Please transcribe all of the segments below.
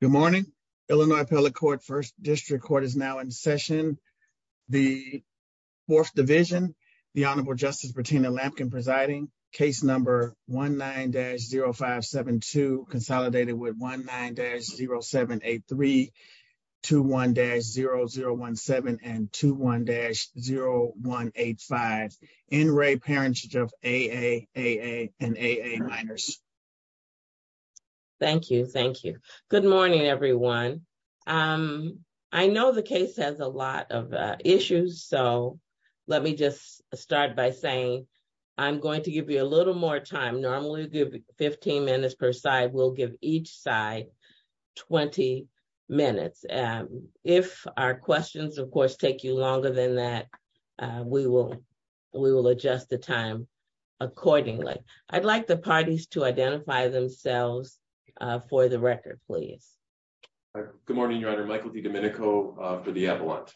Good morning. Illinois Appellate Court, First District Court is now in session. The Fourth Division, the Honorable Justice Bertina Lampkin presiding, case number 19-0572, consolidated with 19-0783, 21-0017, and 21-0185, NRA parents of AA, AA, and AA minors. Thank you. Thank you. Good morning, everyone. I know the case has a lot of issues, so let me just start by saying I'm going to give you a little more time. Normally, we give 15 minutes per side. We'll give each side 20 minutes. If our questions, of course, take you longer than that, we will adjust the time accordingly. I'd like the parties to identify themselves for the record, please. Good morning, Your Honor. Michael DiDomenico for the Appellant.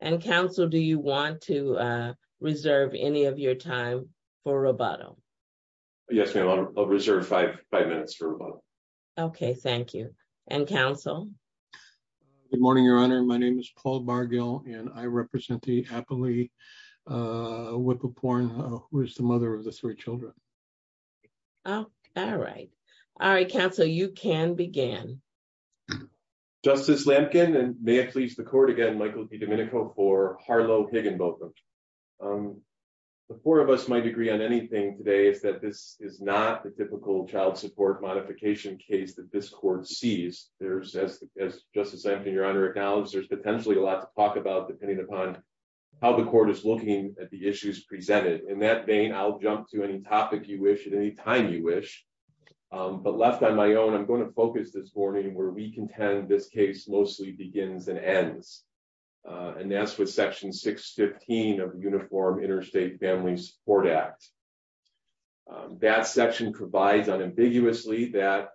And, counsel, do you want to reserve any of your time for rebuttal? Yes, ma'am. I'll reserve five minutes for rebuttal. Okay. Thank you. And, counsel? Good morning, Your Honor. My name is Paul Bargill, and I represent the Appellee Whippleporn, who is the mother of the three children. Oh, all right. All right, counsel, you can begin. Justice Lampkin, and may it please the Court again, Michael DiDomenico for Harlow Higginbotham. The four of us might agree on anything today is that this is not the typical child support modification case that this Court sees. As Justice Lampkin, Your Honor, acknowledged, there's potentially a lot to talk about depending upon how the Court is looking at the issues presented. In that vein, I'll jump to any topic you wish at any time you wish. But left on my own, I'm going to focus this morning where we contend this case mostly begins and ends. And that's with Section 615 of the Uniform Interstate Family Support Act. That section provides unambiguously that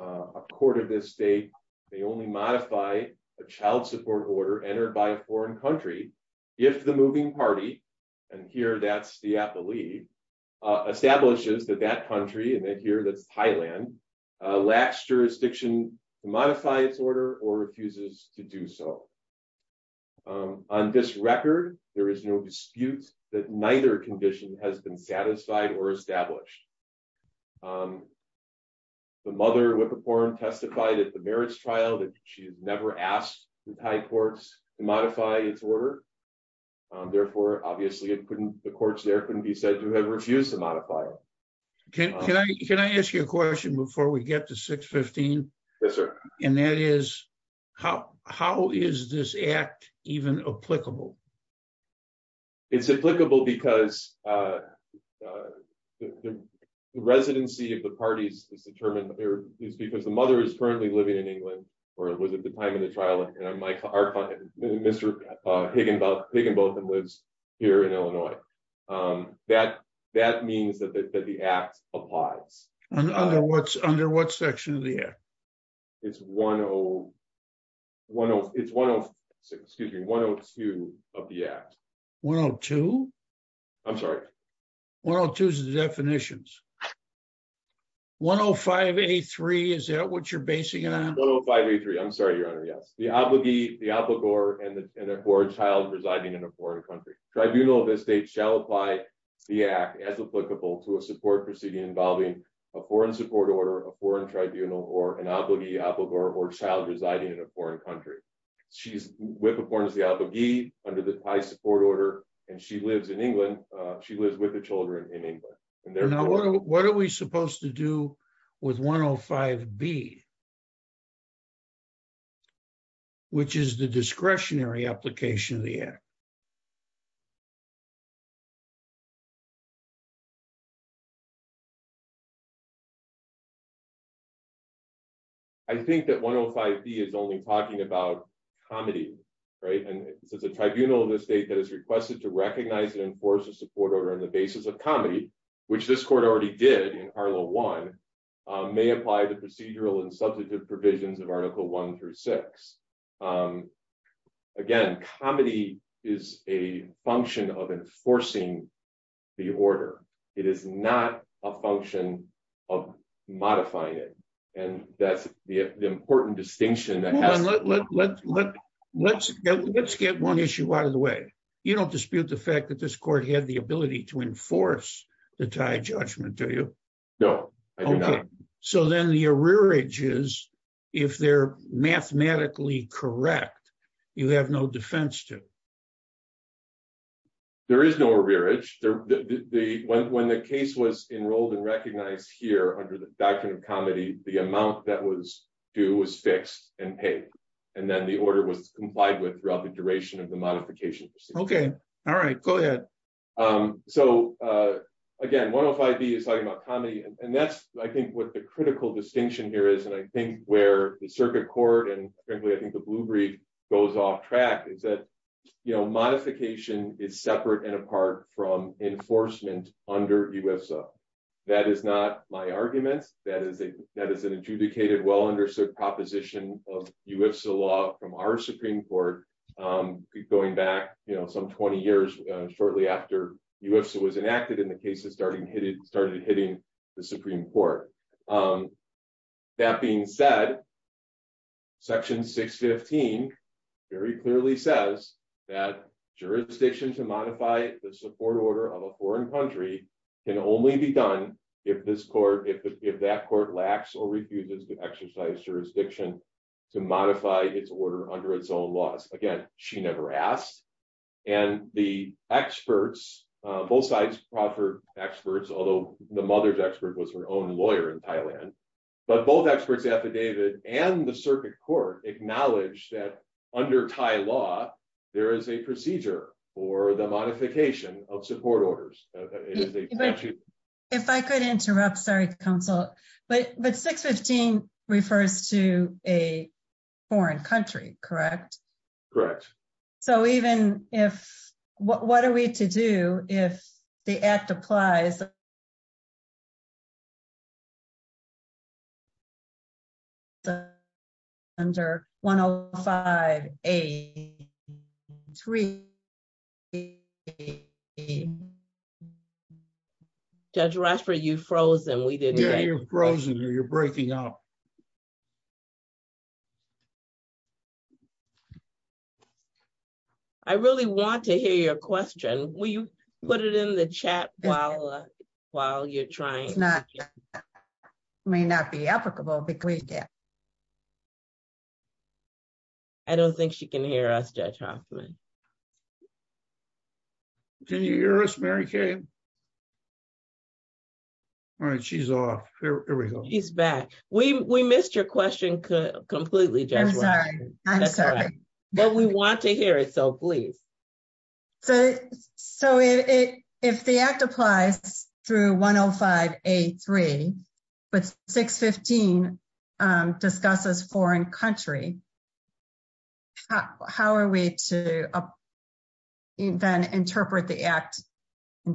a court of this state may only modify a child support order entered by a foreign country if the moving party, and here that's the Appellee, establishes that that country, and here that's Thailand, lacks jurisdiction to modify its order or refuses to do so. On this record, there is no dispute that neither condition has been satisfied or established. The mother, Whippiporam, testified at the merits trial that she's never asked the Thai courts to modify its order. Therefore, obviously, the courts there couldn't be said to have refused to modify it. Can I ask you a question before we get to 615? Yes, sir. And that is, how is this act even applicable? It's applicable because the residency of the parties is determined, or it's because the mother is currently living in England, or it was at the time of the trial, and Mr. Higginbotham lives here in Illinois. That means that the act applies. And under what section of the act? It's 106, excuse me, 102 of the act. 102? I'm sorry. 102 is the definitions. 105A3, is that what you're basing it on? 105A3, I'm sorry, your honor, yes. The obligee, the obligor, and the poor child residing in a foreign country. Tribunal of this state shall apply the act as applicable to a support proceeding involving a foreign support order, a foreign tribunal, or an obligee, obligor, or child residing in a foreign country. She's with or under the high support order, and she lives in England. She lives with the children in England. What are we supposed to do with 105B, which is the discretionary application of the act? I think that 105B is only talking about comity, right? And it says a tribunal of the state that has requested to recognize and enforce a support order on the basis of comity, which this court already did in Arlo 1, may apply the procedural and substantive provisions of Article 1 through 6. Again, comity is a function of enforcing the order. It is not a function of enforcing the order. It is a function of modifying it, and that's the important distinction. Hold on. Let's get one issue out of the way. You don't dispute the fact that this court had the ability to enforce the tied judgment, do you? No, I do not. So then the arrearage is, if they're mathematically correct, you have no defense to? There is no arrearage. When the case was enrolled and recognized here under the Doctrine of Comity, the amount that was due was fixed and paid, and then the order was complied with throughout the duration of the modification procedure. Okay. All right. Go ahead. So again, 105B is talking about comity, and that's, I think, what the critical distinction here is, and I think where the circuit court and frankly, I think, the blue brief goes off track, is that modification is separate and apart from enforcement under UIFSA. That is not my argument. That is an adjudicated, well-understood proposition of UIFSA law from our Supreme Court going back some 20 years, shortly after UIFSA was enacted and the cases started hitting the Supreme Court. That being said, Section 615 very clearly says that jurisdiction to modify the support order of a foreign country can only be done if that court lacks or refuses to exercise jurisdiction to modify its order under its own laws. Again, she never asked, and the experts, both sides proffered experts, although the mother's expert was her own lawyer in Thailand, but both experts affidavit and the circuit court acknowledged that under Thai law, there is a procedure for the modification of support orders. If I could interrupt, sorry, counsel, but 615 refers to a foreign country, correct? Correct. So even if, what are we to do if the act applies under 105A3? Judge Rashford, you've frozen. Yeah, you're frozen or you're breaking up. I really want to hear your question. Will you put it in the chat while you're trying? It may not be applicable, but please do. I don't think she can hear us, Judge Hoffman. Can you hear us, Mary Kay? All right, she's off. Here we go. She's back. We missed your question completely, Judge Rashford. I'm sorry. I'm sorry. But we want to hear it, so please. So if the act applies through 105A3, but 615 discusses foreign country, how are we to then interpret the act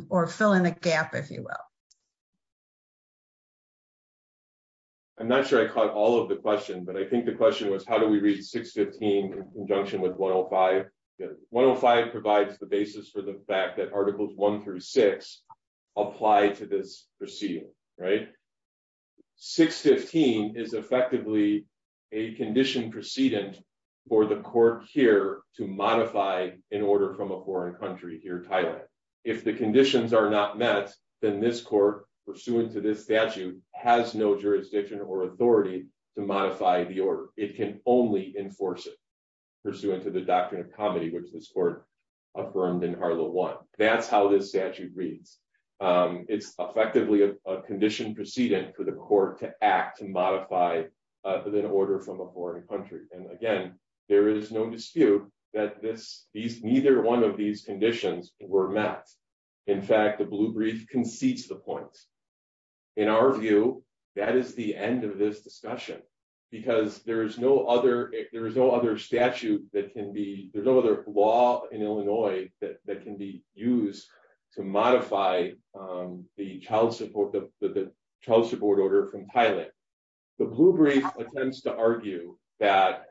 or fill in a gap, if you will? I'm not sure I caught all of the question, but I think the question was, do we read 615 in conjunction with 105? 105 provides the basis for the fact that Articles 1 through 6 apply to this proceeding, right? 615 is effectively a condition precedent for the court here to modify an order from a foreign country here in Thailand. If the conditions are not met, then this court, pursuant to this statute, has no jurisdiction or authority to modify the order. It can only enforce it, pursuant to the doctrine of comity, which this court affirmed in Arlo 1. That's how this statute reads. It's effectively a condition precedent for the court to act and modify an order from a foreign country. And again, there is no dispute that neither one of these conditions were met. In fact, the blue brief concedes the point. In our view, that is the end of this discussion, because there is no other statute that can be, there's no other law in Illinois that can be used to modify the child support order from Thailand. The blue brief intends to argue that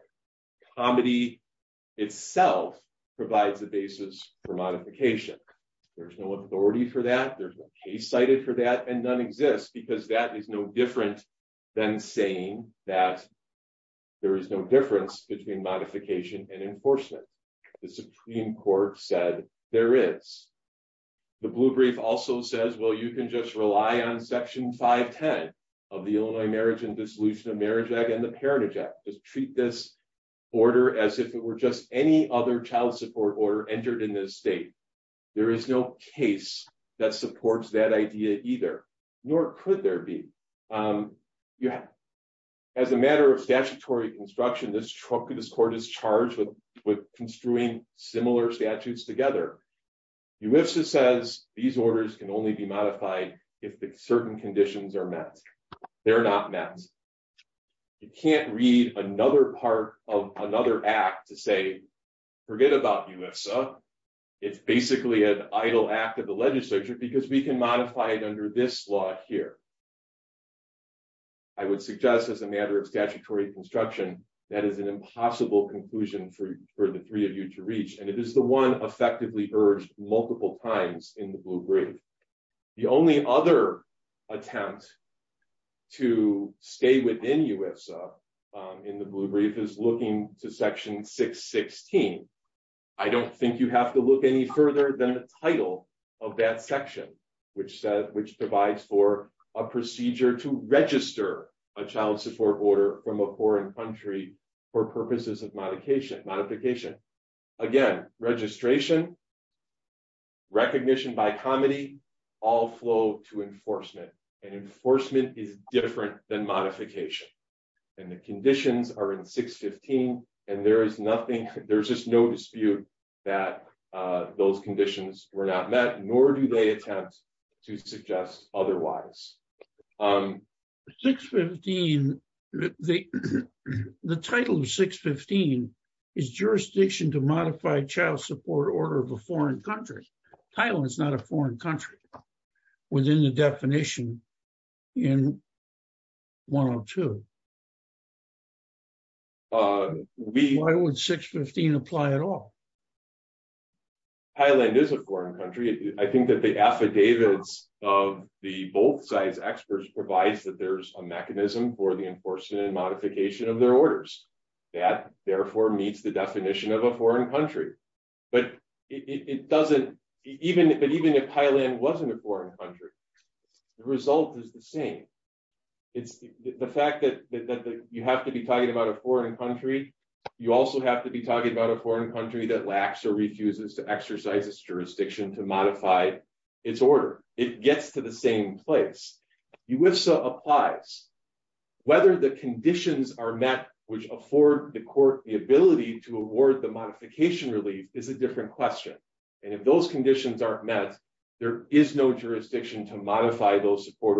comity itself provides the basis for modification. There's no authority for that, there's no case cited for that, and none exists, because that is no different than saying that there is no difference between modification and enforcement. The Supreme Court said there is. The blue brief also says, well, you can just rely on Section 510 of the Illinois Marriage and Dissolution of Marriage Act and the Parentage Act. Just treat this order as if it were just any other child support order entered in this state. There is no case that supports that idea either, nor could there be. As a matter of statutory construction, this court is charged with construing similar statutes together. UIFSA says these orders can only be modified if the certain conditions are met. They're not met. You can't read another part of another act to say, forget about UIFSA, it's basically an idle act of the legislature, because we can modify it under this law here. I would suggest as a matter of statutory construction, that is an impossible conclusion for the three of you to reach, and it is the one effectively urged multiple times in the blue brief. The only other attempt to stay within UIFSA in the blue brief is looking to Section 616. I don't think you have to look any further than the title of that section, which provides for a procedure to register a child support order from a foreign country for purposes of modification. Again, registration, recognition by comedy, all flow to enforcement, and enforcement is different than modification. The conditions are in 615, and there's just no dispute that those conditions were not met, nor do they attempt to suggest otherwise. 615, the title of 615 is jurisdiction to modify child support order of a foreign country. Thailand is not a foreign country within the definition in 102. Why would 615 apply at all? Thailand is a foreign country. I think that the affidavits of the both sides' experts provides that there's a mechanism for the enforcement and modification of their orders. That, therefore, meets the definition of a foreign country. But even if Thailand wasn't a foreign country, the result is the same. It's the fact that you have to be talking about a foreign country, you also have to be talking about a foreign country that lacks or refuses to exercise its jurisdiction to modify its order. It gets to the same place. UIFSA applies. Whether the conditions are met which afford the court the ability to award the modification relief is a different question. And if those conditions aren't met, there is no jurisdiction to modify those support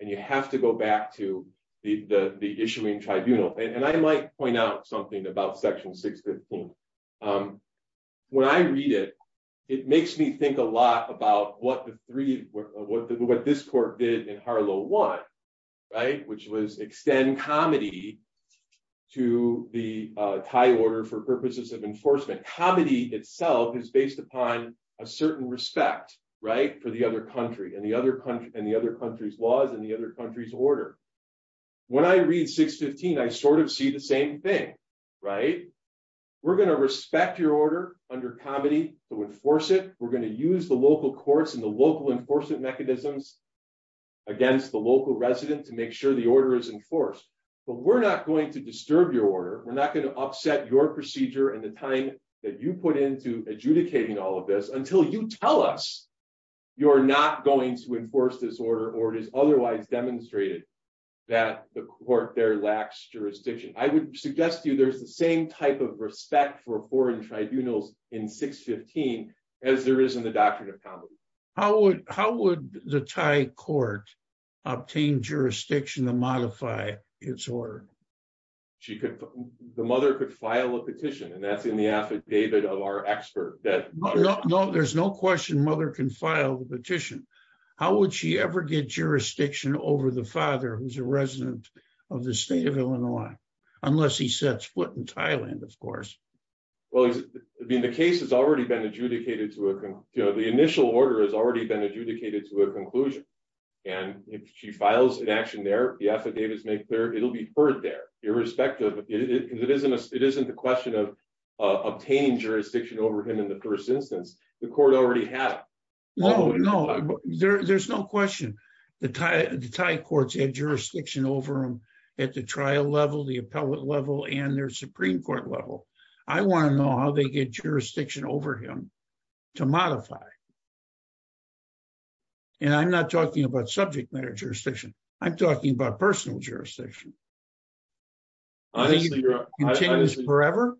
and you have to go back to the issuing tribunal. And I might point out something about section 615. When I read it, it makes me think a lot about what this court did in Harlow 1, which was extend comedy to the Thai order for purposes of enforcement. Comedy itself is based upon a certain respect for the other country and the other country's laws and the other country's order. When I read 615, I sort of see the same thing. We're going to respect your order under comedy to enforce it. We're going to use the local courts and the local enforcement mechanisms against the local resident to make sure the order is enforced. But we're not going to disturb your procedure and the time that you put into adjudicating all of this until you tell us you're not going to enforce this order or it is otherwise demonstrated that the court there lacks jurisdiction. I would suggest to you there's the same type of respect for foreign tribunals in 615 as there is in the doctrine of comedy. How would the Thai court obtain jurisdiction to modify its order? The mother could file a petition and that's in the affidavit of our expert. There's no question mother can file the petition. How would she ever get jurisdiction over the father who's a resident of the state of Illinois, unless he sets foot in Thailand, of course. Well, the case has already been adjudicated to a conclusion. The initial order has already been adjudicated to a conclusion. And if she files an action there, the affidavit is made clear, it'll be heard there irrespective. It isn't the question of obtaining jurisdiction over him in the first instance. The court already had it. No, no, there's no question. The Thai courts had jurisdiction over him at the trial level, the appellate level, and their Supreme Court level. I want to know how they get jurisdiction over him to modify. And I'm not talking about subject matter jurisdiction. I'm talking about personal jurisdiction. I think it continues forever.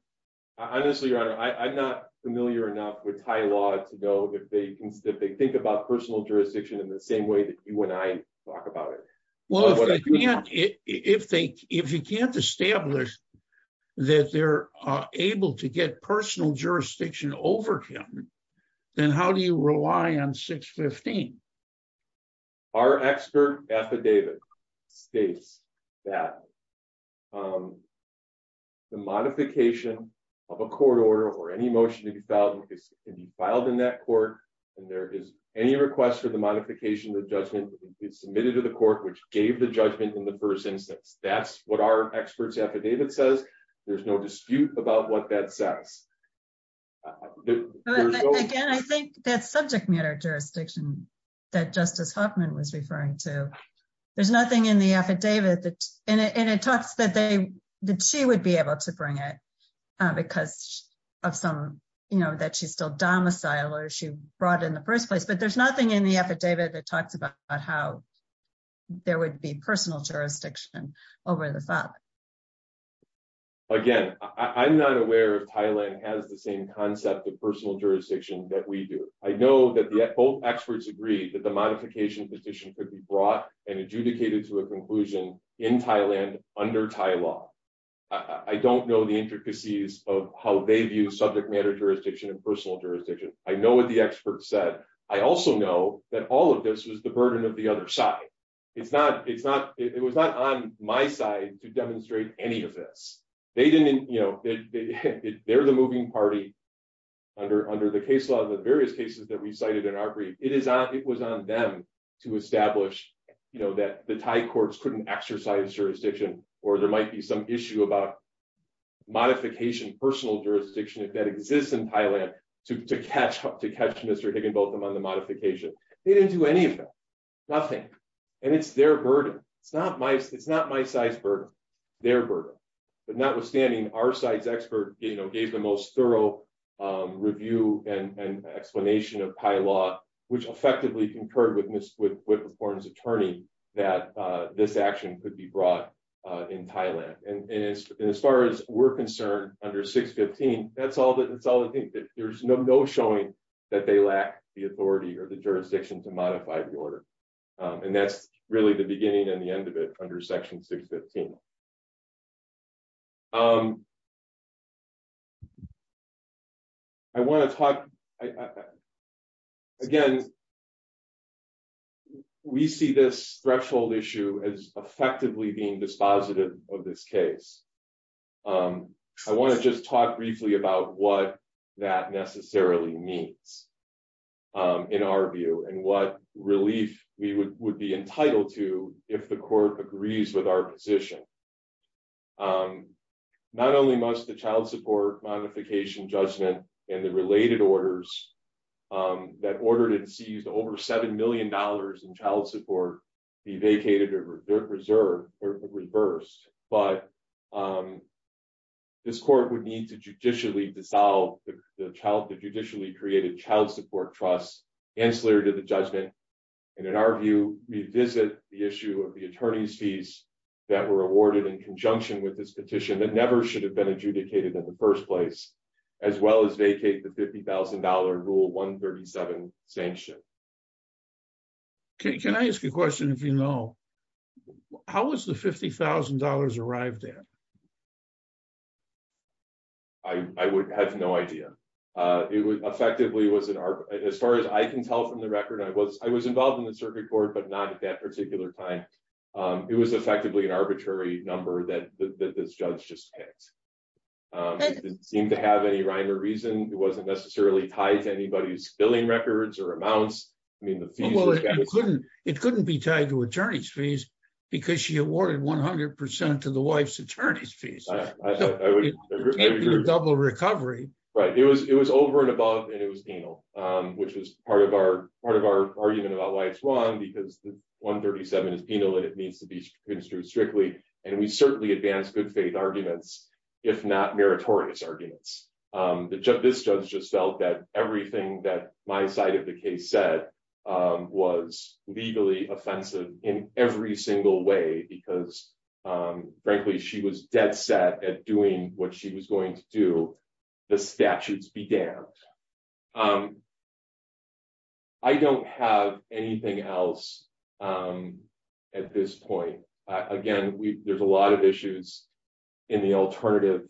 Honestly, your honor, I'm not familiar enough with Thai law to know if they think about personal jurisdiction in the same way that you and I talk about it. Well, if you can't establish that they're able to get personal jurisdiction over him, then how do you rely on 615? Our expert affidavit states that the modification of a court order or any motion to be filed in that court, and there is any request for the modification of the judgment submitted to the court which gave the judgment in the first instance. That's what our expert's affidavit says. There's no dispute about what that says. Again, I think that subject matter jurisdiction that Justice Huffman was referring to, there's nothing in the affidavit, and it talks that she would be able to bring it because of some, you know, that she's still domicile or she brought it in the first place, but there's nothing in the affidavit that talks about how there would be personal jurisdiction over the father. Again, I'm not aware if Thailand has the same concept of personal jurisdiction that we do. I know that both experts agree that the modification petition could be brought and adjudicated to a conclusion in Thailand under Thai law. I don't know the intricacies of how they I also know that all of this was the burden of the other side. It was not on my side to demonstrate any of this. They're the moving party under the case law, the various cases that we cited in our brief. It was on them to establish that the Thai courts couldn't exercise jurisdiction or there might be some issue about modification personal jurisdiction that exists in Thailand to catch Mr. Higginbotham on the modification. They didn't do any of that, nothing, and it's their burden. It's not my side's burden, their burden. But notwithstanding, our side's expert, you know, gave the most thorough review and explanation of Thai law, which effectively concurred with the foreign's attorney that this action could be brought in Thailand. And as far we're concerned under 615, that's all that's all I think. There's no showing that they lack the authority or the jurisdiction to modify the order. And that's really the beginning and the end of it under section 615. I want to talk, again, we see this threshold issue as effectively being dispositive of this case. I want to just talk briefly about what that necessarily means in our view and what relief we would be entitled to if the court agrees with our position. Not only must the child support modification judgment and the related orders that ordered over $7 million in child support be vacated or reversed, but this court would need to judicially dissolve the child, the judicially created child support trust ancillary to the judgment. And in our view, revisit the issue of the attorney's fees that were awarded in conjunction with this petition that never should have been adjudicated in the first place, as well as vacate the $50,000 rule 137 sanction. Can I ask a question, if you know, how was the $50,000 arrived at? I would have no idea. It was effectively was as far as I can tell from the record, I was involved in the circuit court, but not at that particular time. It was effectively an arbitrary number that this judge just picked. It didn't seem to have any rhyme or reason. It wasn't necessarily tied to anybody's billing records or amounts. It couldn't be tied to attorney's fees because she awarded 100% to the wife's attorney's fees. Right. It was over and above and it was penal, which was part of our argument about why it's that it needs to be construed strictly. And we certainly advanced good faith arguments, if not meritorious arguments. This judge just felt that everything that my side of the case said was legally offensive in every single way, because frankly, she was dead set at doing what she was going to do. The statutes be damned. I don't have anything else at this point. Again, there's a lot of issues in the alternative.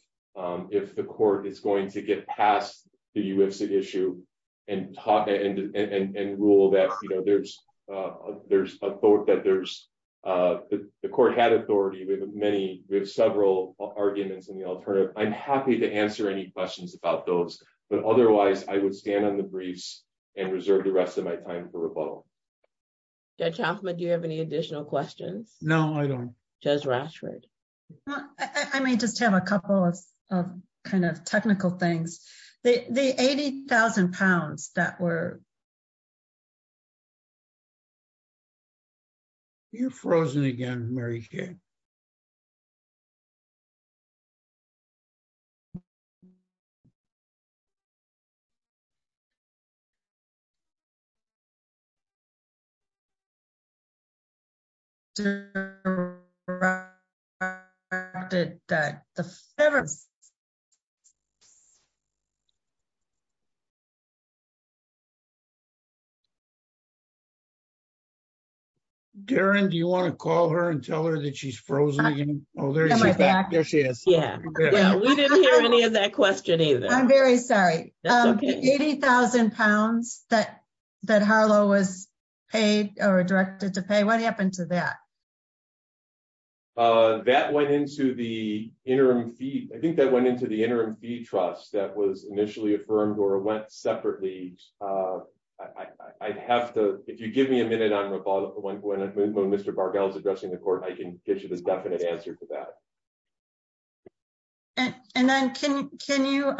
If the court is going to get past the UIFCT issue and rule that the court had authority with several arguments in the alternative, I'm happy to answer any questions about those, but otherwise I would stand on the briefs and reserve the rest of my time for rebuttal. Judge Hoffman, do you have any additional questions? No, I don't. Judge Rashford? I may just have a couple of kind of technical things. The 80,000 pounds that were... You're frozen again, Mary Jane. I'm very sorry. The 80,000 pounds that Harlow was paid or directed to pay, what happened to that? I think that went into the interim fee trust that was initially affirmed or went separately. If you give me a minute on rebuttal when Mr. Bargall is addressing the court, I can get you the definite answer to that. Then can you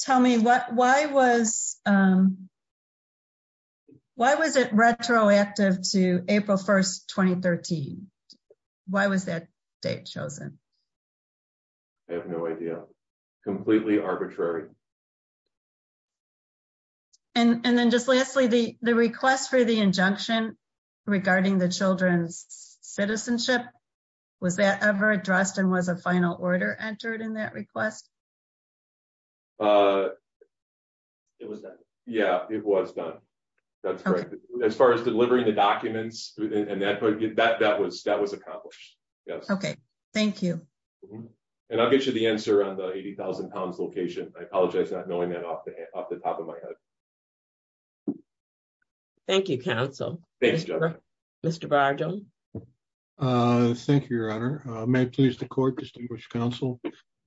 tell me why was it retroactive to April 1st, 2013? Why was that date chosen? I have no idea. Completely arbitrary. Then just lastly, the request for the injunction regarding the children's citizenship was that ever addressed and was a final order entered in that request? It was done. Yeah, it was done. That's correct. As far as delivering the documents, that was accomplished. Okay, thank you. I'll get you the answer on the 80,000 pounds location. I apologize not knowing that off the top of my head. Thank you, counsel. Mr. Bargall? Thank you, your honor. May it please the court, distinguished counsel.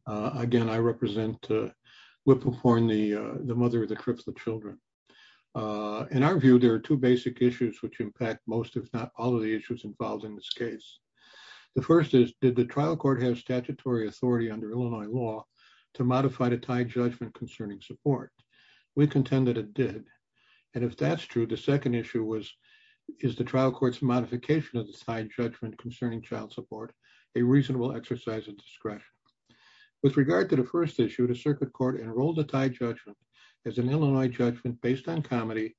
Again, I represent Whippleporn, the mother of the Cripps, the children. In our view, there are two basic issues which impact most, if not all, of the issues involved in this case. The first is, did the trial court have statutory authority under Illinois law to modify the tied judgment concerning support? We contend that it did. If that's true, the second issue is, is the trial court's modification of the tied judgment concerning child support a reasonable exercise of discretion? With regard to the first issue, the circuit court enrolled the tied judgment as an Illinois judgment based on comedy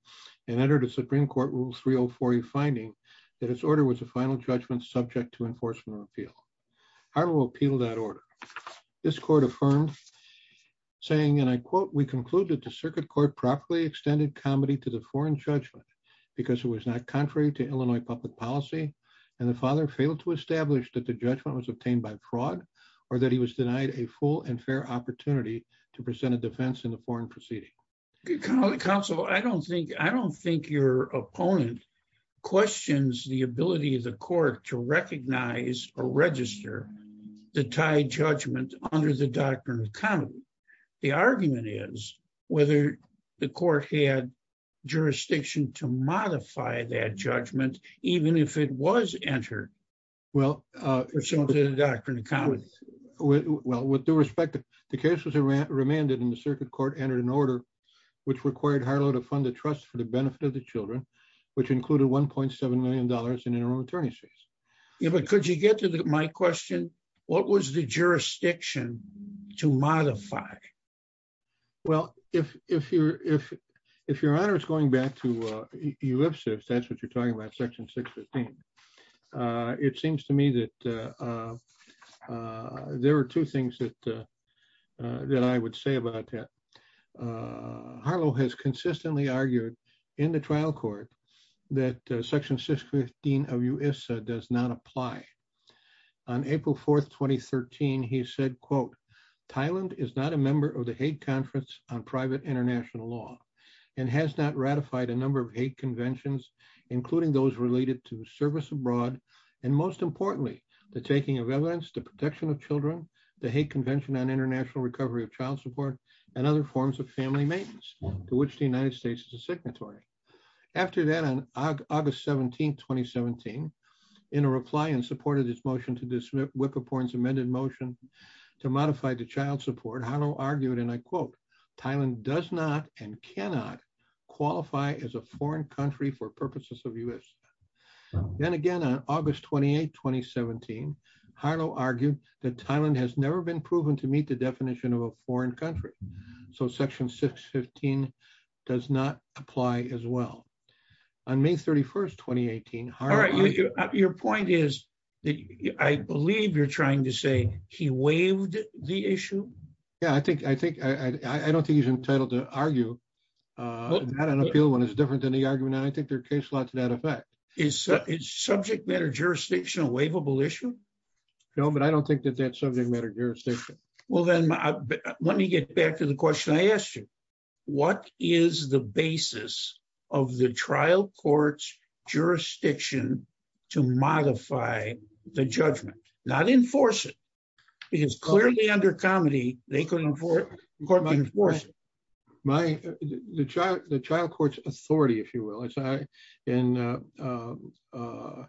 and entered a Supreme Court Rule 304E finding that its order was a final judgment subject to enforcement of appeal. I will appeal that order. This court affirmed, saying, and I quote, we conclude that the circuit court properly extended comedy to the foreign judgment because it was not contrary to Illinois public policy and the father failed to establish that the judgment was obtained by fraud or that he was denied a full and fair opportunity to present a defense in the foreign proceeding. Counsel, I don't think your opponent questions the ability of the court to recognize or register the tied judgment under the doctrine of comedy. The argument is whether the court had jurisdiction to modify that judgment, even if it was entered. Well, with due respect, the case was remanded and the circuit court entered an order which required Harlow to fund a trust for the benefit of the children, which included $1.7 million in interim attorney's fees. Yeah, but could you get to my question? What was the jurisdiction to modify? Well, if your honor is going back to ellipsis, that's what you're talking about, section 615. It seems to me that there are two things that I would say about that. Harlow has consistently argued in the trial court that section 615 of U.S.A. does not apply. On April 4th, 2013, he said, quote, Thailand is not a member of the hate conference on private international law and has not ratified a number of hate conventions, including those related to service abroad. And most importantly, the taking of evidence to protection of children, the hate convention on international recovery of child support and other forms of family maintenance, to which the United States is a After that, on August 17th, 2017, in a reply in support of this motion to dismiss Whippoorn's amended motion to modify the child support, Harlow argued, and I quote, Thailand does not and cannot qualify as a foreign country for purposes of U.S.A. Then again, on August 28, 2017, Harlow argued that Thailand has never been proven to meet the definition of a foreign country. So section 615 does not apply as well. On May 31st, 2018, Harlow argued Your point is that I believe you're trying to say he waived the issue. Yeah, I think I think I don't think he's entitled to argue. Not an appeal when it's different than the argument. I think there are case law to that effect. Is subject matter jurisdiction a waivable issue? No, but I don't think that that's subject matter jurisdiction. Well, then, let me get back to the question I asked you. What is the basis of the trial court's jurisdiction to modify the judgment, not enforce it? Because clearly under comedy, they couldn't afford court enforcement. My child, the child court's authority, if you will, it's I in a.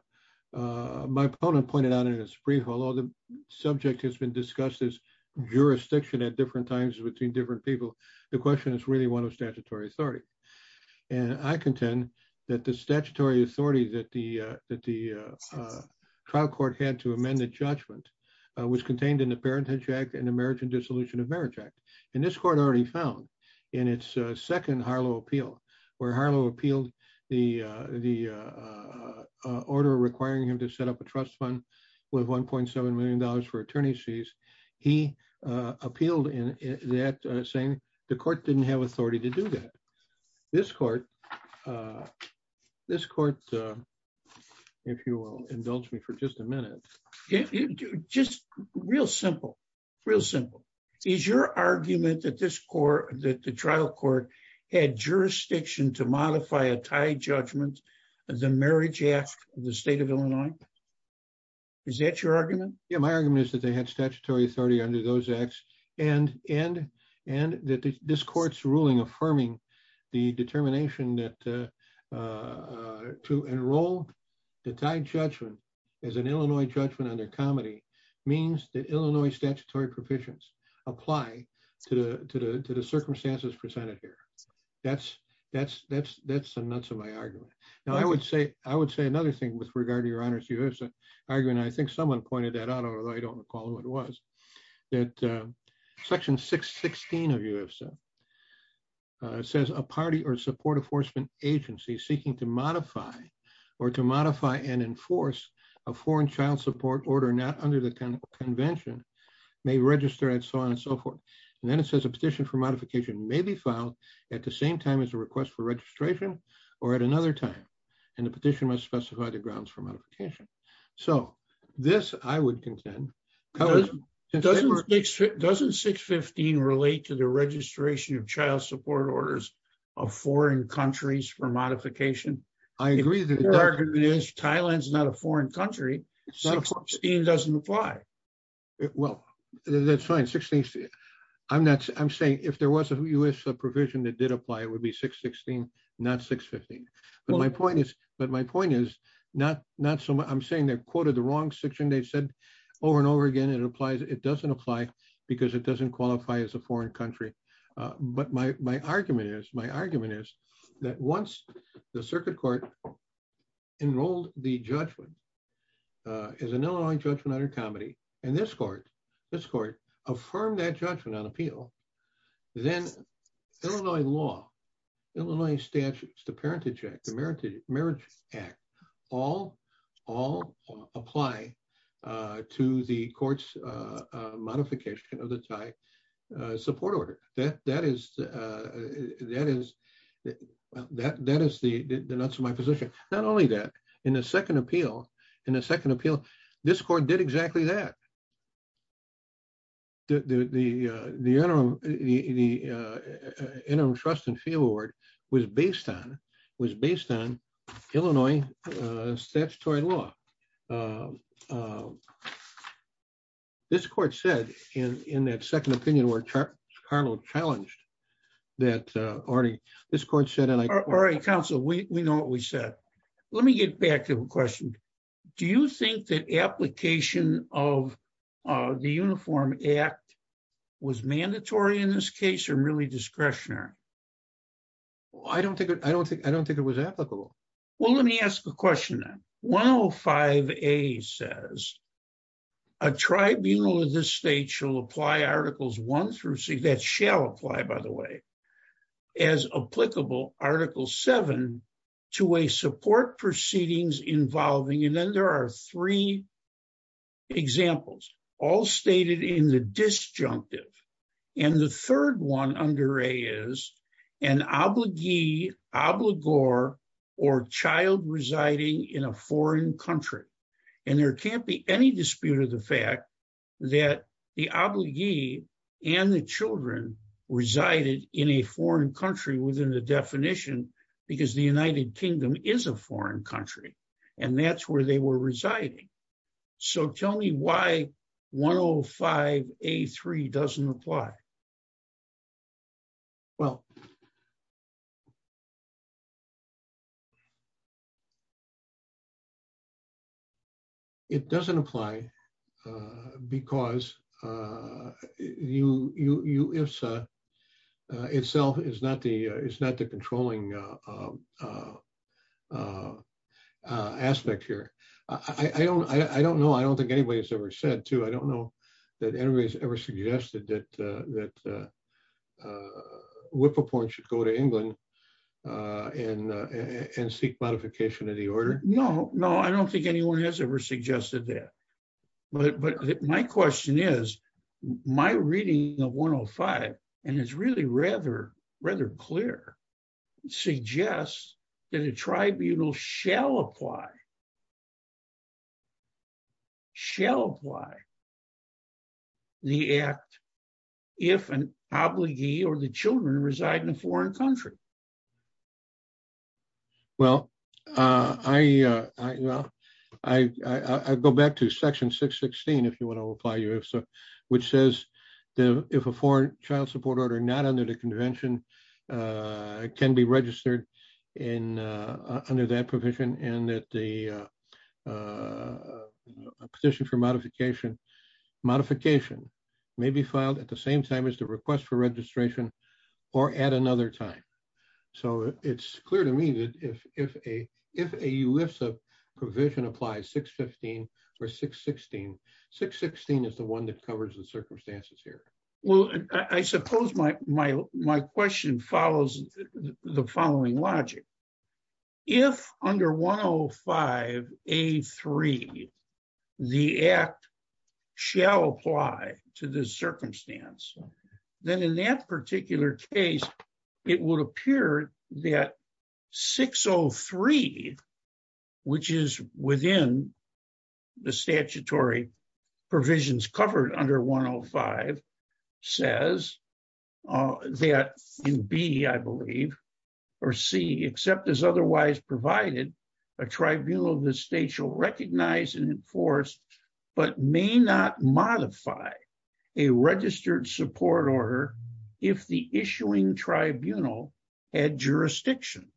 My opponent pointed out in his brief, although the subject has been discussed as jurisdiction at different times between different people, the question is really one of statutory authority. And I contend that the statutory authority that the that the trial court had to amend the judgment was contained in the Parentage Act and the Marriage and Dissolution of Marriage Act. And this court already found in its second Harlow appeal where Harlow appealed the the order requiring him to set up a trust fund with $1.7 million for attorney's fees. He appealed in that saying the court didn't have authority to do that. This court, this court, if you will, indulge me for just a minute. Just real simple, real simple. Is your argument that this court that the trial court had jurisdiction to modify a tied judgment of the Marriage Act of the state of Illinois? Is that your argument? Yeah, my argument is that they had statutory authority under those acts and and and that this court's ruling affirming the determination that to enroll the tied judgment as an Illinois judgment under comedy means that Illinois circumstances presented here. That's that's that's that's the nuts of my argument. Now, I would say I would say another thing with regard to your honor's US argument. I think someone pointed that out, although I don't recall who it was, that Section 616 of UFSA says a party or support enforcement agency seeking to modify or to modify and enforce a foreign child support order not under the convention may register and so on and so forth. And then it says a petition for modification may be filed at the same time as a request for registration or at another time, and the petition must specify the grounds for modification. So this I would contend. Doesn't 615 relate to the registration of child support orders of foreign countries for modification? I agree that Thailand's not a foreign country. 16 doesn't apply. Well, that's fine. 16. I'm not I'm saying if there was a US provision that did apply, it would be 616, not 615. But my point is, but my point is, not not so much. I'm saying they're quoted the wrong section, they said, over and over again, it applies, it doesn't apply, because it doesn't qualify as a foreign country. But my argument is my argument is that once the circuit court enrolled, the judgment is an Illinois judgment under comedy, and this court, this court affirmed that judgment on appeal, then Illinois law, Illinois statutes, the Parentage Act, the Marriage Act, all all apply to the court's modification of the Thai support order that that is, that is, that that is the nuts of my position. Not only that, in the second appeal, in the second appeal, this court did exactly that. The the interim, the interim trust and field award was based on was in in that second opinion, where Carlo challenged that already, this court said, and I already counsel, we know what we said. Let me get back to a question. Do you think that application of the Uniform Act was mandatory in this case, or really discretionary? I don't think I don't think I don't think it was applicable. Well, let me ask a question. Well, five, a says, a tribunal in this state shall apply articles one through six that shall apply, by the way, as applicable article seven, to a support proceedings involving and then there are three examples, all stated in the disjunctive. And the third one under a is an obligee, obligor, or child residing in a foreign country. And there can't be any dispute of the fact that the obligee and the children resided in a foreign country within the definition, because the United Kingdom is a foreign country. And that's where they were residing. So tell me why 105. A three doesn't apply. Well, it doesn't apply. Because you you if itself is not the is not the controlling aspect here. I don't I don't know. I don't think anybody's ever said to I don't know that anybody's ever suggested that that whippoorporn should go to England in and seek modification of the order. No, no, I don't think anyone has ever suggested that. But my question is, my reading of 105. And it's really rather, rather clear, suggests that a tribunal shall apply, shall apply the act, if an obligee or the children reside in a foreign country. Well, I, I go back to section 616, if you want to apply you if so, which says that if a foreign child support order not under the convention, can be registered in under that provision, and that the petition for modification, modification may be filed at the same time as the request for registration, or at another time. So it's clear to me that if if a if a US of provision applies 615, or 616, 616 is the one that covers the circumstances here. Well, I suppose my, my, my question follows the following logic. If under 105. A three, the act shall apply to the circumstance, then in that particular case, it will appear that 603, which is within the statutory provisions covered under 105, says that in B, I believe, or C, except as otherwise provided, a tribunal of the state shall recognize and enforce, but may not modify a registered support order, if the issuing tribunal had jurisdiction.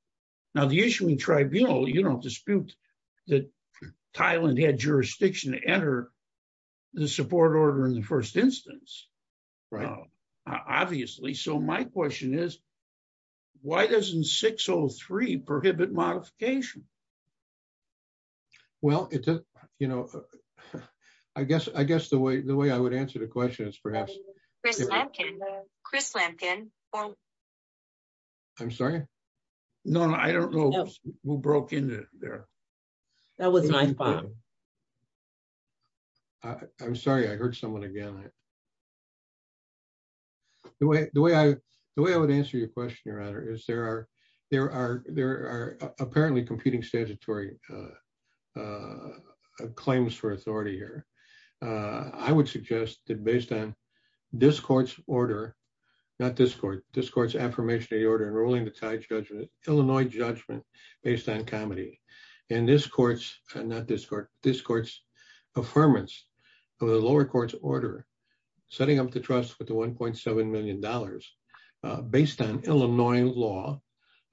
Now the issuing tribunal, you don't dispute that Thailand had jurisdiction to enter the support order in the first instance, right? Obviously. So my question is, why doesn't 603 prohibit modification? Well, it's a, you know, I guess I guess the way the way I would answer the question is perhaps Chris Lampkin. I'm sorry. No, I don't know who broke in there. That was my phone. I'm sorry, I heard someone again. The way, the way I, the way I would answer your question, Your Honor, is there are, there are, there are apparently competing statutory claims for authority here. I would suggest that based on this court's order, not this court, this court's affirmation of the order enrolling the Thai judgment, Illinois judgment based on and this court's, not this court, this court's affirmance of the lower court's order, setting up the trust with the $1.7 million based on Illinois law.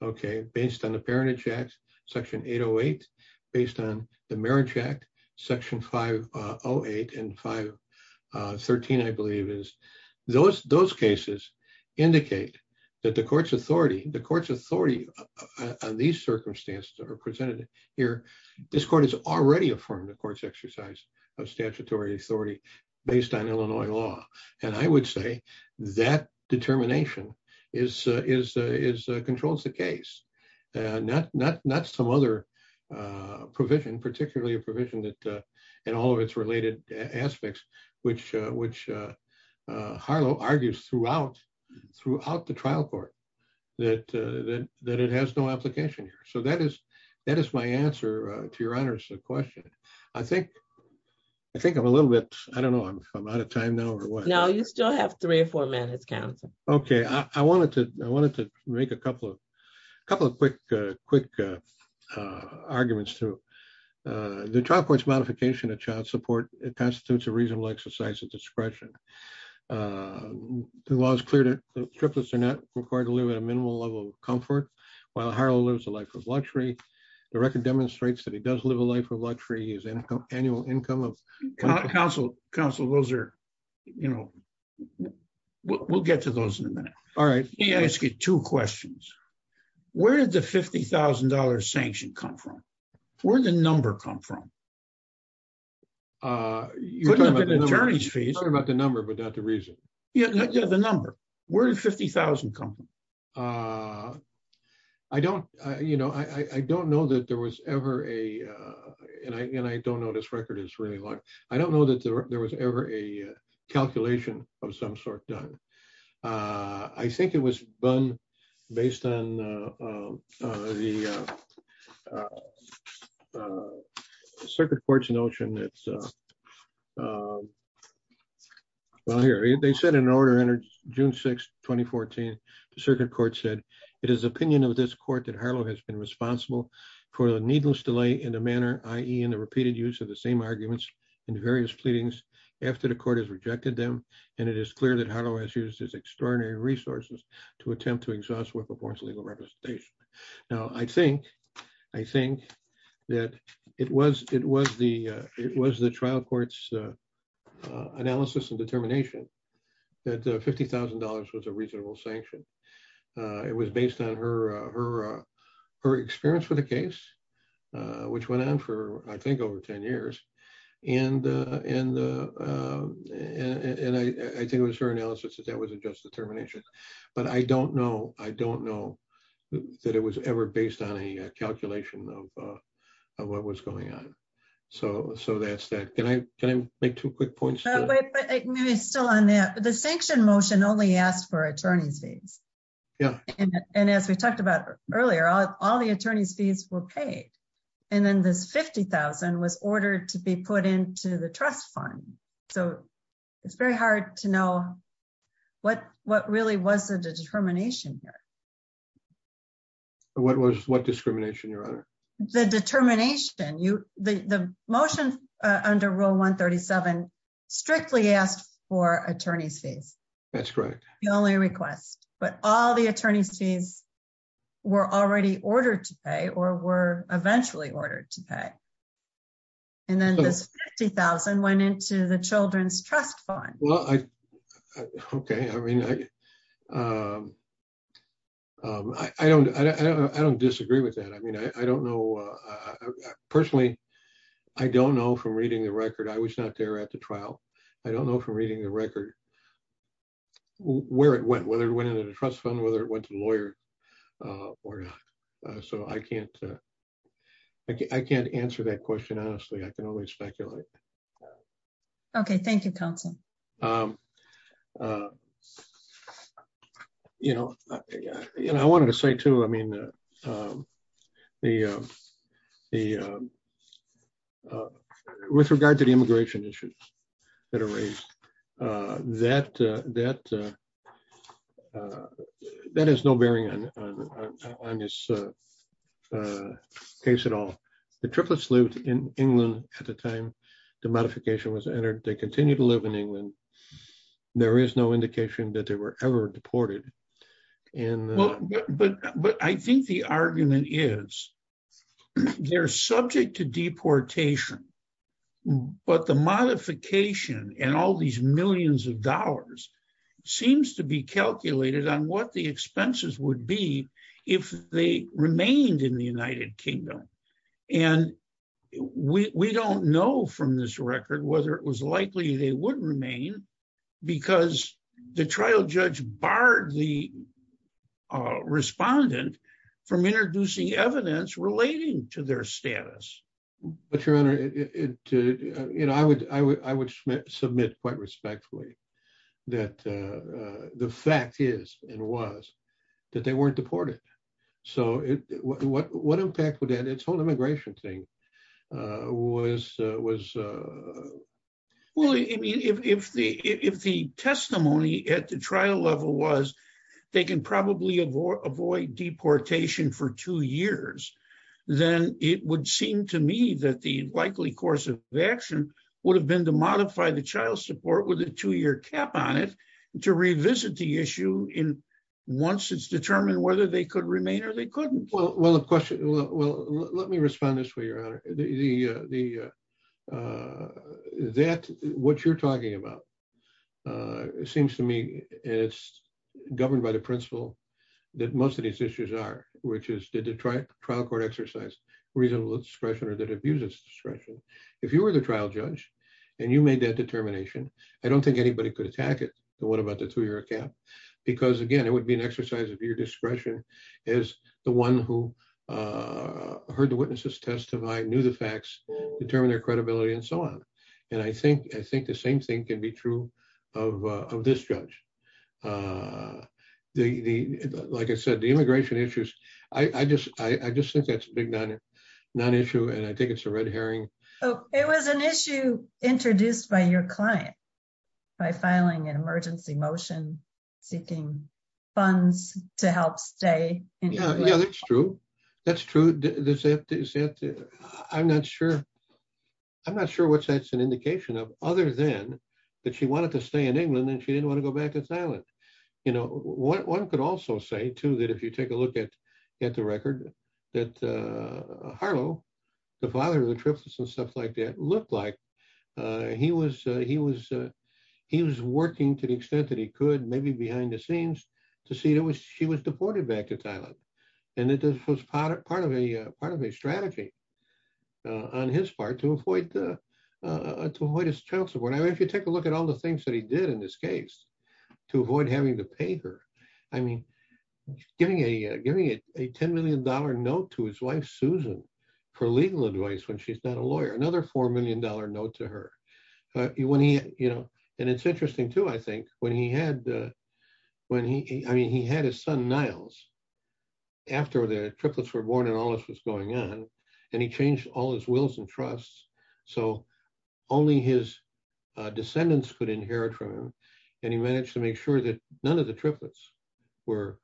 Okay. Based on the parentage act, section 808, based on the marriage act, section 508 and 513, I believe is those, those indicate that the court's authority, the court's authority on these circumstances are presented here. This court has already affirmed the court's exercise of statutory authority based on Illinois law. And I would say that determination is, is, is controls the case. Not, not, not some other provision, particularly a provision that in all of its related aspects, which, which Harlow argues throughout the trial court that, that, that it has no application here. So that is, that is my answer to Your Honor's question. I think, I think I'm a little bit, I don't know if I'm out of time now or what. No, you still have three or four minutes, counsel. Okay. I wanted to, I wanted to make a couple of, a couple of quick, quick arguments to the trial court's modification of child support. It constitutes a reasonable exercise of discretion. The law is clear that triplets are not required to live at a minimal level of comfort while Harlow lives a life of luxury. The record demonstrates that he does live a life of luxury. His income, annual income of counsel, counsel, those are, you know, we'll get to those in a minute. All right. Let me ask you two questions. Where did the $50,000 sanction come from? Where did the number come from? You're talking about the number, but not the reason. Yeah, the number. Where did $50,000 come from? I don't, you know, I don't know that there was ever a, and I, and I don't know this record is really long. I don't know that there was ever a calculation of some sort done. I think it was done based on the circuit court's notion that, well here, they said in an order entered June 6, 2014, the circuit court said, it is opinion of this court that Harlow has been responsible for the needless delay in the manner, i.e. in the repeated use of the same arguments in various pleadings after the court has rejected them. And it is clear that Harlow has used his attempt to exhaust what performs legal representation. Now, I think, I think that it was, it was the, it was the trial court's analysis and determination that $50,000 was a reasonable sanction. It was based on her, her, her experience with the case, which went on for, I think over 10 years. And, and, and I, I think it was her analysis that that was a just determination, but I don't know. I don't know that it was ever based on a calculation of, of what was going on. So, so that's that. Can I, can I make two quick points? The sanction motion only asked for attorney's fees. Yeah. And as we talked about earlier, all the attorney's fees were paid. And then this 50,000 was ordered to be put into the trust fund. So it's very hard to know what, what really was the determination here? What was what discrimination, your honor? The determination, you, the, the motion under rule 137 strictly asked for attorney's fees. That's correct. The only request, but all attorney's fees were already ordered to pay or were eventually ordered to pay. And then this 50,000 went into the children's trust fund. Well, I, okay. I mean, I, I don't, I don't, I don't disagree with that. I mean, I don't know. Personally, I don't know from reading the record. I was not there at the trial. I don't know from reading the record where it went, whether it went into the trust fund, whether it went to the lawyer or not. So I can't, I can't answer that question. Honestly, I can only speculate. Okay. Thank you. Council. You know, I wanted to say too, I mean, the, the with regard to the immigration issues that are raised, uh, that, uh, that, uh, uh, that has no bearing on, uh, on this, uh, uh, case at all. The triplets lived in England at the time the modification was entered. They continue to live in England. There is no indication that they were ever deported. And, but, but I think the argument is they're subject to deportation, but the modification and all these millions of dollars seems to be calculated on what the expenses would be if they remained in the United Kingdom. And we, we don't know from this record, whether it was likely they wouldn't remain because the trial judge barred the respondent from introducing evidence relating to their status. But your honor it to, you know, I would, I would, I would submit quite respectfully that, uh, uh, the fact is and was that they weren't deported. So what, what, what impact its whole immigration thing, uh, was, uh, was, uh, well, I mean, if the, if the testimony at the trial level was they can probably avoid deportation for two years, then it would seem to me that the likely course of action would have been to modify the child support with a two-year cap on it to revisit the issue in once it's determined whether they could remain or they wouldn't. Well, well, the question, well, let me respond this way, your honor, the, uh, the, uh, that what you're talking about, uh, it seems to me it's governed by the principle that most of these issues are, which is did the trial court exercise reasonable discretion or that abuses discretion. If you were the trial judge and you made that determination, I don't think anybody could attack it. What about the two-year cap? Because again, it would be an exercise of your who, uh, heard the witnesses testify, knew the facts, determine their credibility and so on. And I think, I think the same thing can be true of, uh, of this judge. Uh, the, the, like I said, the immigration issues, I, I just, I, I just think that's a big non, non-issue and I think it's a red herring. Oh, it was an issue introduced by your client by filing an emergency motion, seeking funds to help stay. Yeah, that's true. That's true. I'm not sure. I'm not sure what's that's an indication of other than that she wanted to stay in England and she didn't want to go back to Thailand. You know, what one could also say too, that if you take a look at, at the record that, uh, Harlow, the father of the triplets and stuff like that looked like, uh, he was, uh, he could maybe behind the scenes to see it was, she was deported back to Thailand. And it was part of, part of a, uh, part of a strategy, uh, on his part to avoid the, uh, to avoid his child support. I mean, if you take a look at all the things that he did in this case to avoid having to pay her, I mean, giving a, uh, giving a $10 million note to his wife, Susan for legal advice, when she's not a lawyer, another $4 million note to her, uh, when he, you know, and it's interesting too, I think when he had, uh, when he, I mean, he had his son Niles after the triplets were born and all this was going on and he changed all his wills and trusts. So only his descendants could inherit from him. And he managed to make sure that none of the triplets were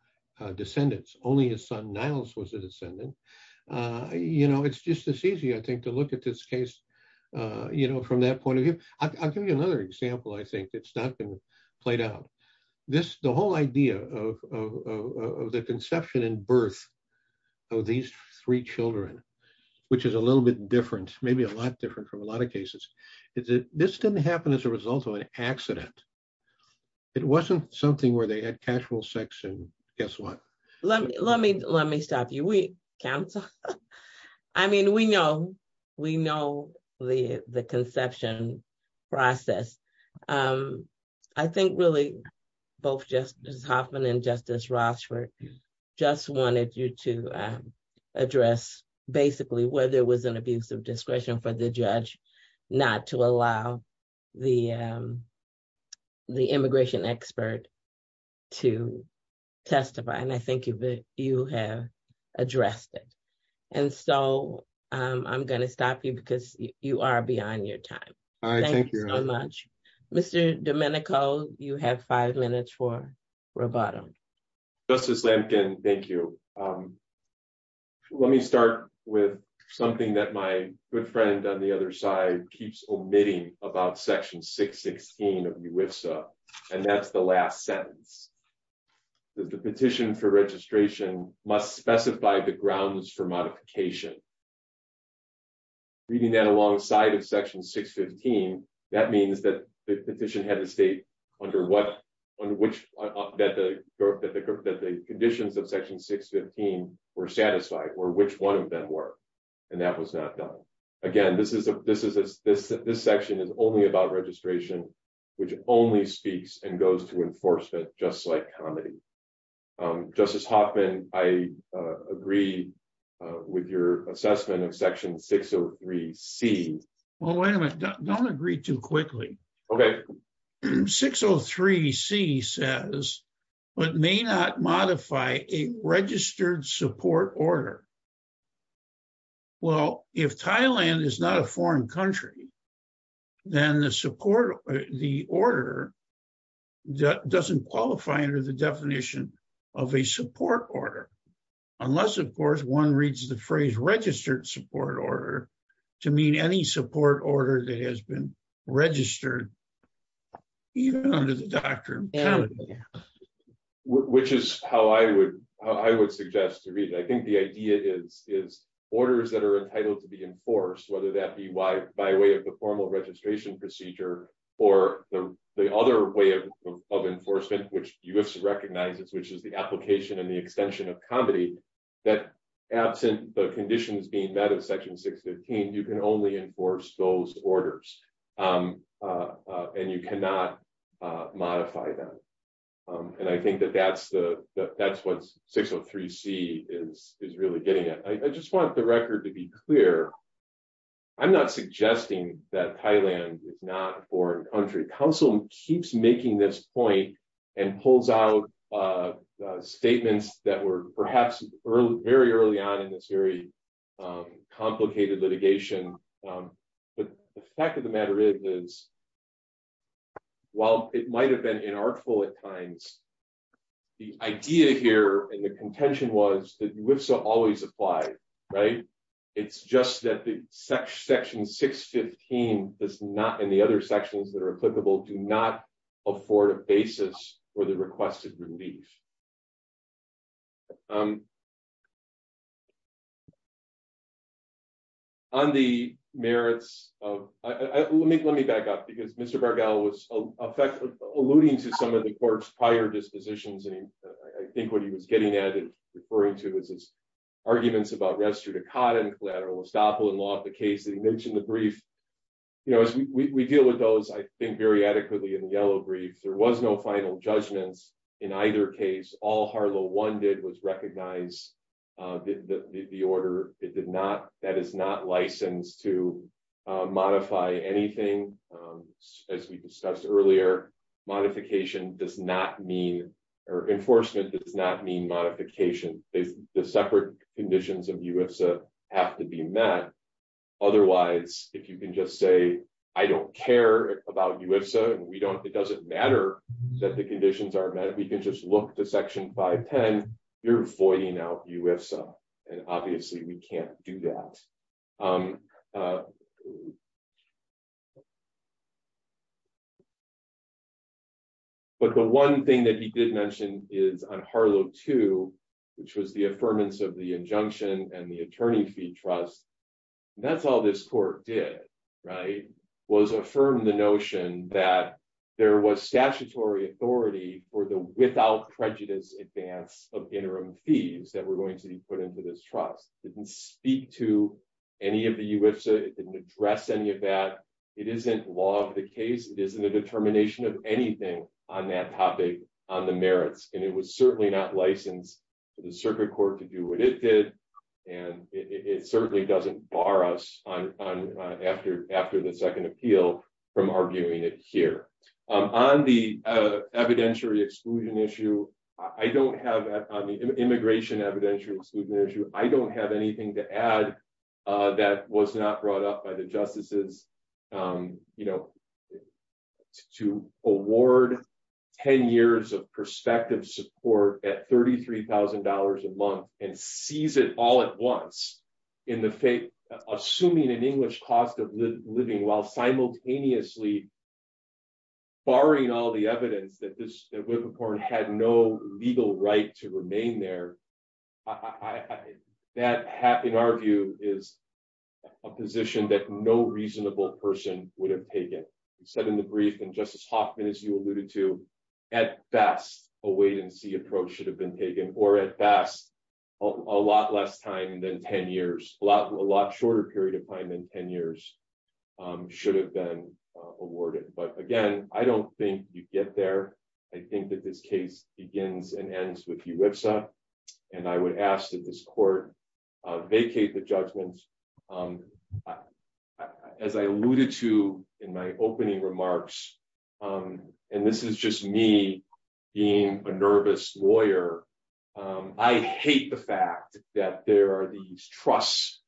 descendants. Only his son Niles was a descendant. Uh, you know, it's just as easy, I think, to look at this case, uh, you know, from that point of view, I'll give you another example. I think it's not going to play down this, the whole idea of, of, of, of the conception and birth of these three children, which is a little bit different, maybe a lot different from a lot of cases is that this didn't happen as a result of an accident. It wasn't something where they had casual sex and guess what? Let me, let me, let me counsel. I mean, we know, we know the, the conception process. Um, I think really both Justice Hoffman and Justice Rochford just wanted you to, um, address basically whether it was an abuse of discretion for the judge, not to allow the, um, the immigration expert to testify. And I think you've, you have addressed it. And so, um, I'm going to stop you because you are beyond your time. Thank you so much, Mr. Domenico, you have five minutes for Roboto. Justice Lampkin, thank you. Um, let me start with something that my good friend on the other side keeps omitting about section 616 of UIFSA. And that's the last sentence that the petition for registration must specify the grounds for modification. Reading that alongside of section 615, that means that the petition had to state under what, on which, that the, that the, that the conditions of section 615 were satisfied or which one of them were, and that was not done. Again, this is a, this is a, this section is only about registration, which only speaks and goes to enforcement, just like comedy. Um, Justice Hoffman, I, uh, agree, uh, with your assessment of section 603C. Well, wait a minute. Don't agree too quickly. Okay. 603C says, but may not modify a registered support order. Well, if Thailand is not a foreign country, then the support, the order doesn't qualify under the definition of a support order. Unless, of course, one reads the phrase registered support order to mean any support order that has been registered even under the I think the idea is, is orders that are entitled to be enforced, whether that be why by way of the formal registration procedure or the, the other way of, of enforcement, which UIFSA recognizes, which is the application and the extension of comedy that absent the conditions being met of section 615, you can only enforce those orders. Um, uh, uh, and you cannot, uh, modify them. Um, and I think that that's the, that that's what's 603C is, is really getting it. I just want the record to be clear. I'm not suggesting that Thailand is not a foreign country. Counsel keeps making this point and pulls out, uh, uh, statements that were perhaps early, very early on in this very, um, complicated litigation. Um, but the fact of the matter is, is while it might've been inartful at times, the idea here and the contention was that UIFSA always applied, right? It's just that the section 615 does not, and the other sections that are applicable do not afford a basis for the requested relief. Um, on the merits of, uh, let me, let me back up because Mr. Bargall was effectively alluding to some of the court's prior dispositions. And I think what he was getting at and referring to is his arguments about restricted cotton collateral estoppel in law, the case that he mentioned the brief, you know, as we, we deal with those, I think very adequately in the yellow brief, there was no final judgments in either case. All Harlow one did was recognize, uh, the, the, the order. It did not, that is not to, uh, modify anything. Um, as we discussed earlier, modification does not mean, or enforcement does not mean modification. They, the separate conditions of UIFSA have to be met. Otherwise, if you can just say, I don't care about UIFSA and we don't, it doesn't matter that the conditions are met. We can just look to section 510, you're voiding out UIFSA. And obviously we can't do that. Um, uh, but the one thing that he did mention is on Harlow two, which was the affirmance of the injunction and the attorney fee trust. That's all this court did, right? Was affirmed the notion that there was statutory authority for the without prejudice advance of interim fees that were going to be put into this trust. It didn't speak to any of the UIFSA. It didn't address any of that. It isn't law of the case. It isn't a determination of anything on that topic on the merits. And it was certainly not licensed for the circuit court to do what it did. And it certainly doesn't bar us on, on, uh, after, after the second appeal from arguing it here, um, on the, uh, evidentiary exclusion issue, I don't have that on the immigration evidentiary exclusion issue. I don't have anything to add, uh, that was not brought up by the justices, um, you know, to award 10 years of perspective support at $33,000 a month and seize it all at once in the faith, assuming an English cost of living while simultaneously barring all the evidence that this, that Whippoorn had no legal right to remain there. That happened. Our view is a position that no reasonable person would have taken. He said in the brief and justice Hoffman, as you alluded to at best, a wait and see approach should have been taken or at best a lot less time than 10 years, a lot, a lot shorter period of time than 10 years, um, should have been awarded. But again, I don't think you get there. I think that this case begins and ends with you website. And I would ask that this court, uh, vacate the judgment. Um, uh, as I alluded to in my opening remarks, um, and this is just me being a nervous lawyer. Um, I hate the fact that there are these trusts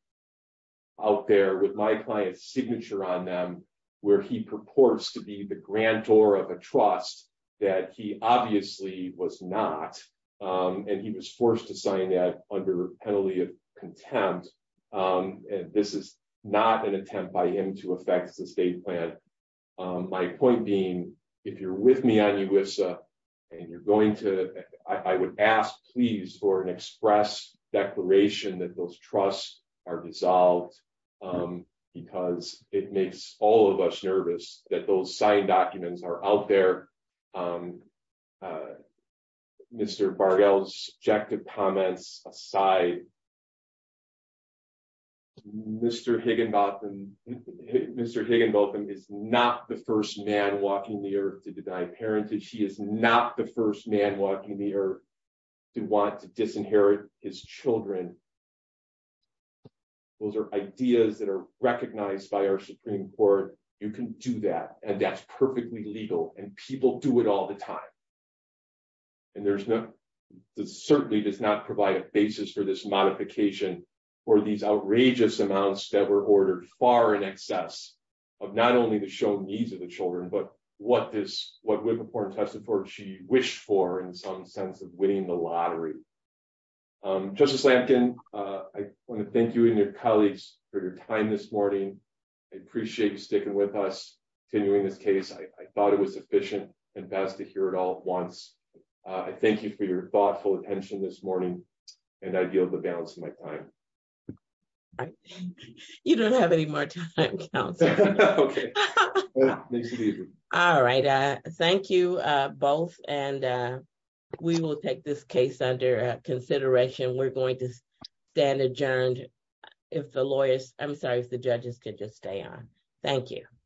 out there with my client's signature on them, where he purports to be the grand tour of a trust that he obviously was not. Um, and he was forced to sign that under penalty of contempt. Um, and this is not an attempt by him to affect the state plan. Um, my point being, if you're with me on you with, uh, and you're going to, I would ask please for an express declaration that those trusts are dissolved. Um, because it makes all of us nervous that those signed documents are out there. Um, uh, Mr. Bargiel's objective comments aside, Mr. Higginbotham, Mr. Higginbotham is not the first man walking the earth to deny parenting. She is not the first man walking the earth to want to disinherit his children. Those are ideas that are recognized by our Supreme court. You can do that. And that's perfectly legal and people do it all the time. And there's no, this certainly does not provide a basis for this modification for these outrageous amounts that were ordered far in excess of not only the shown needs of the children, but what this, what Whippaport tested for, she wished for in some sense of winning the lottery. Um, justice Lampkin, uh, I want to thank you and your colleagues for your time this morning. I appreciate you sticking with us, continuing this case. I thought it was efficient and fast to hear it all at once. Uh, I thank you for your thoughtful attention this morning and I yield the balance of my time. You don't have any more time. All right. Uh, thank you, uh, both. And, uh, we will take this case under consideration. We're I'm sorry if the judges could just stay on. Thank you.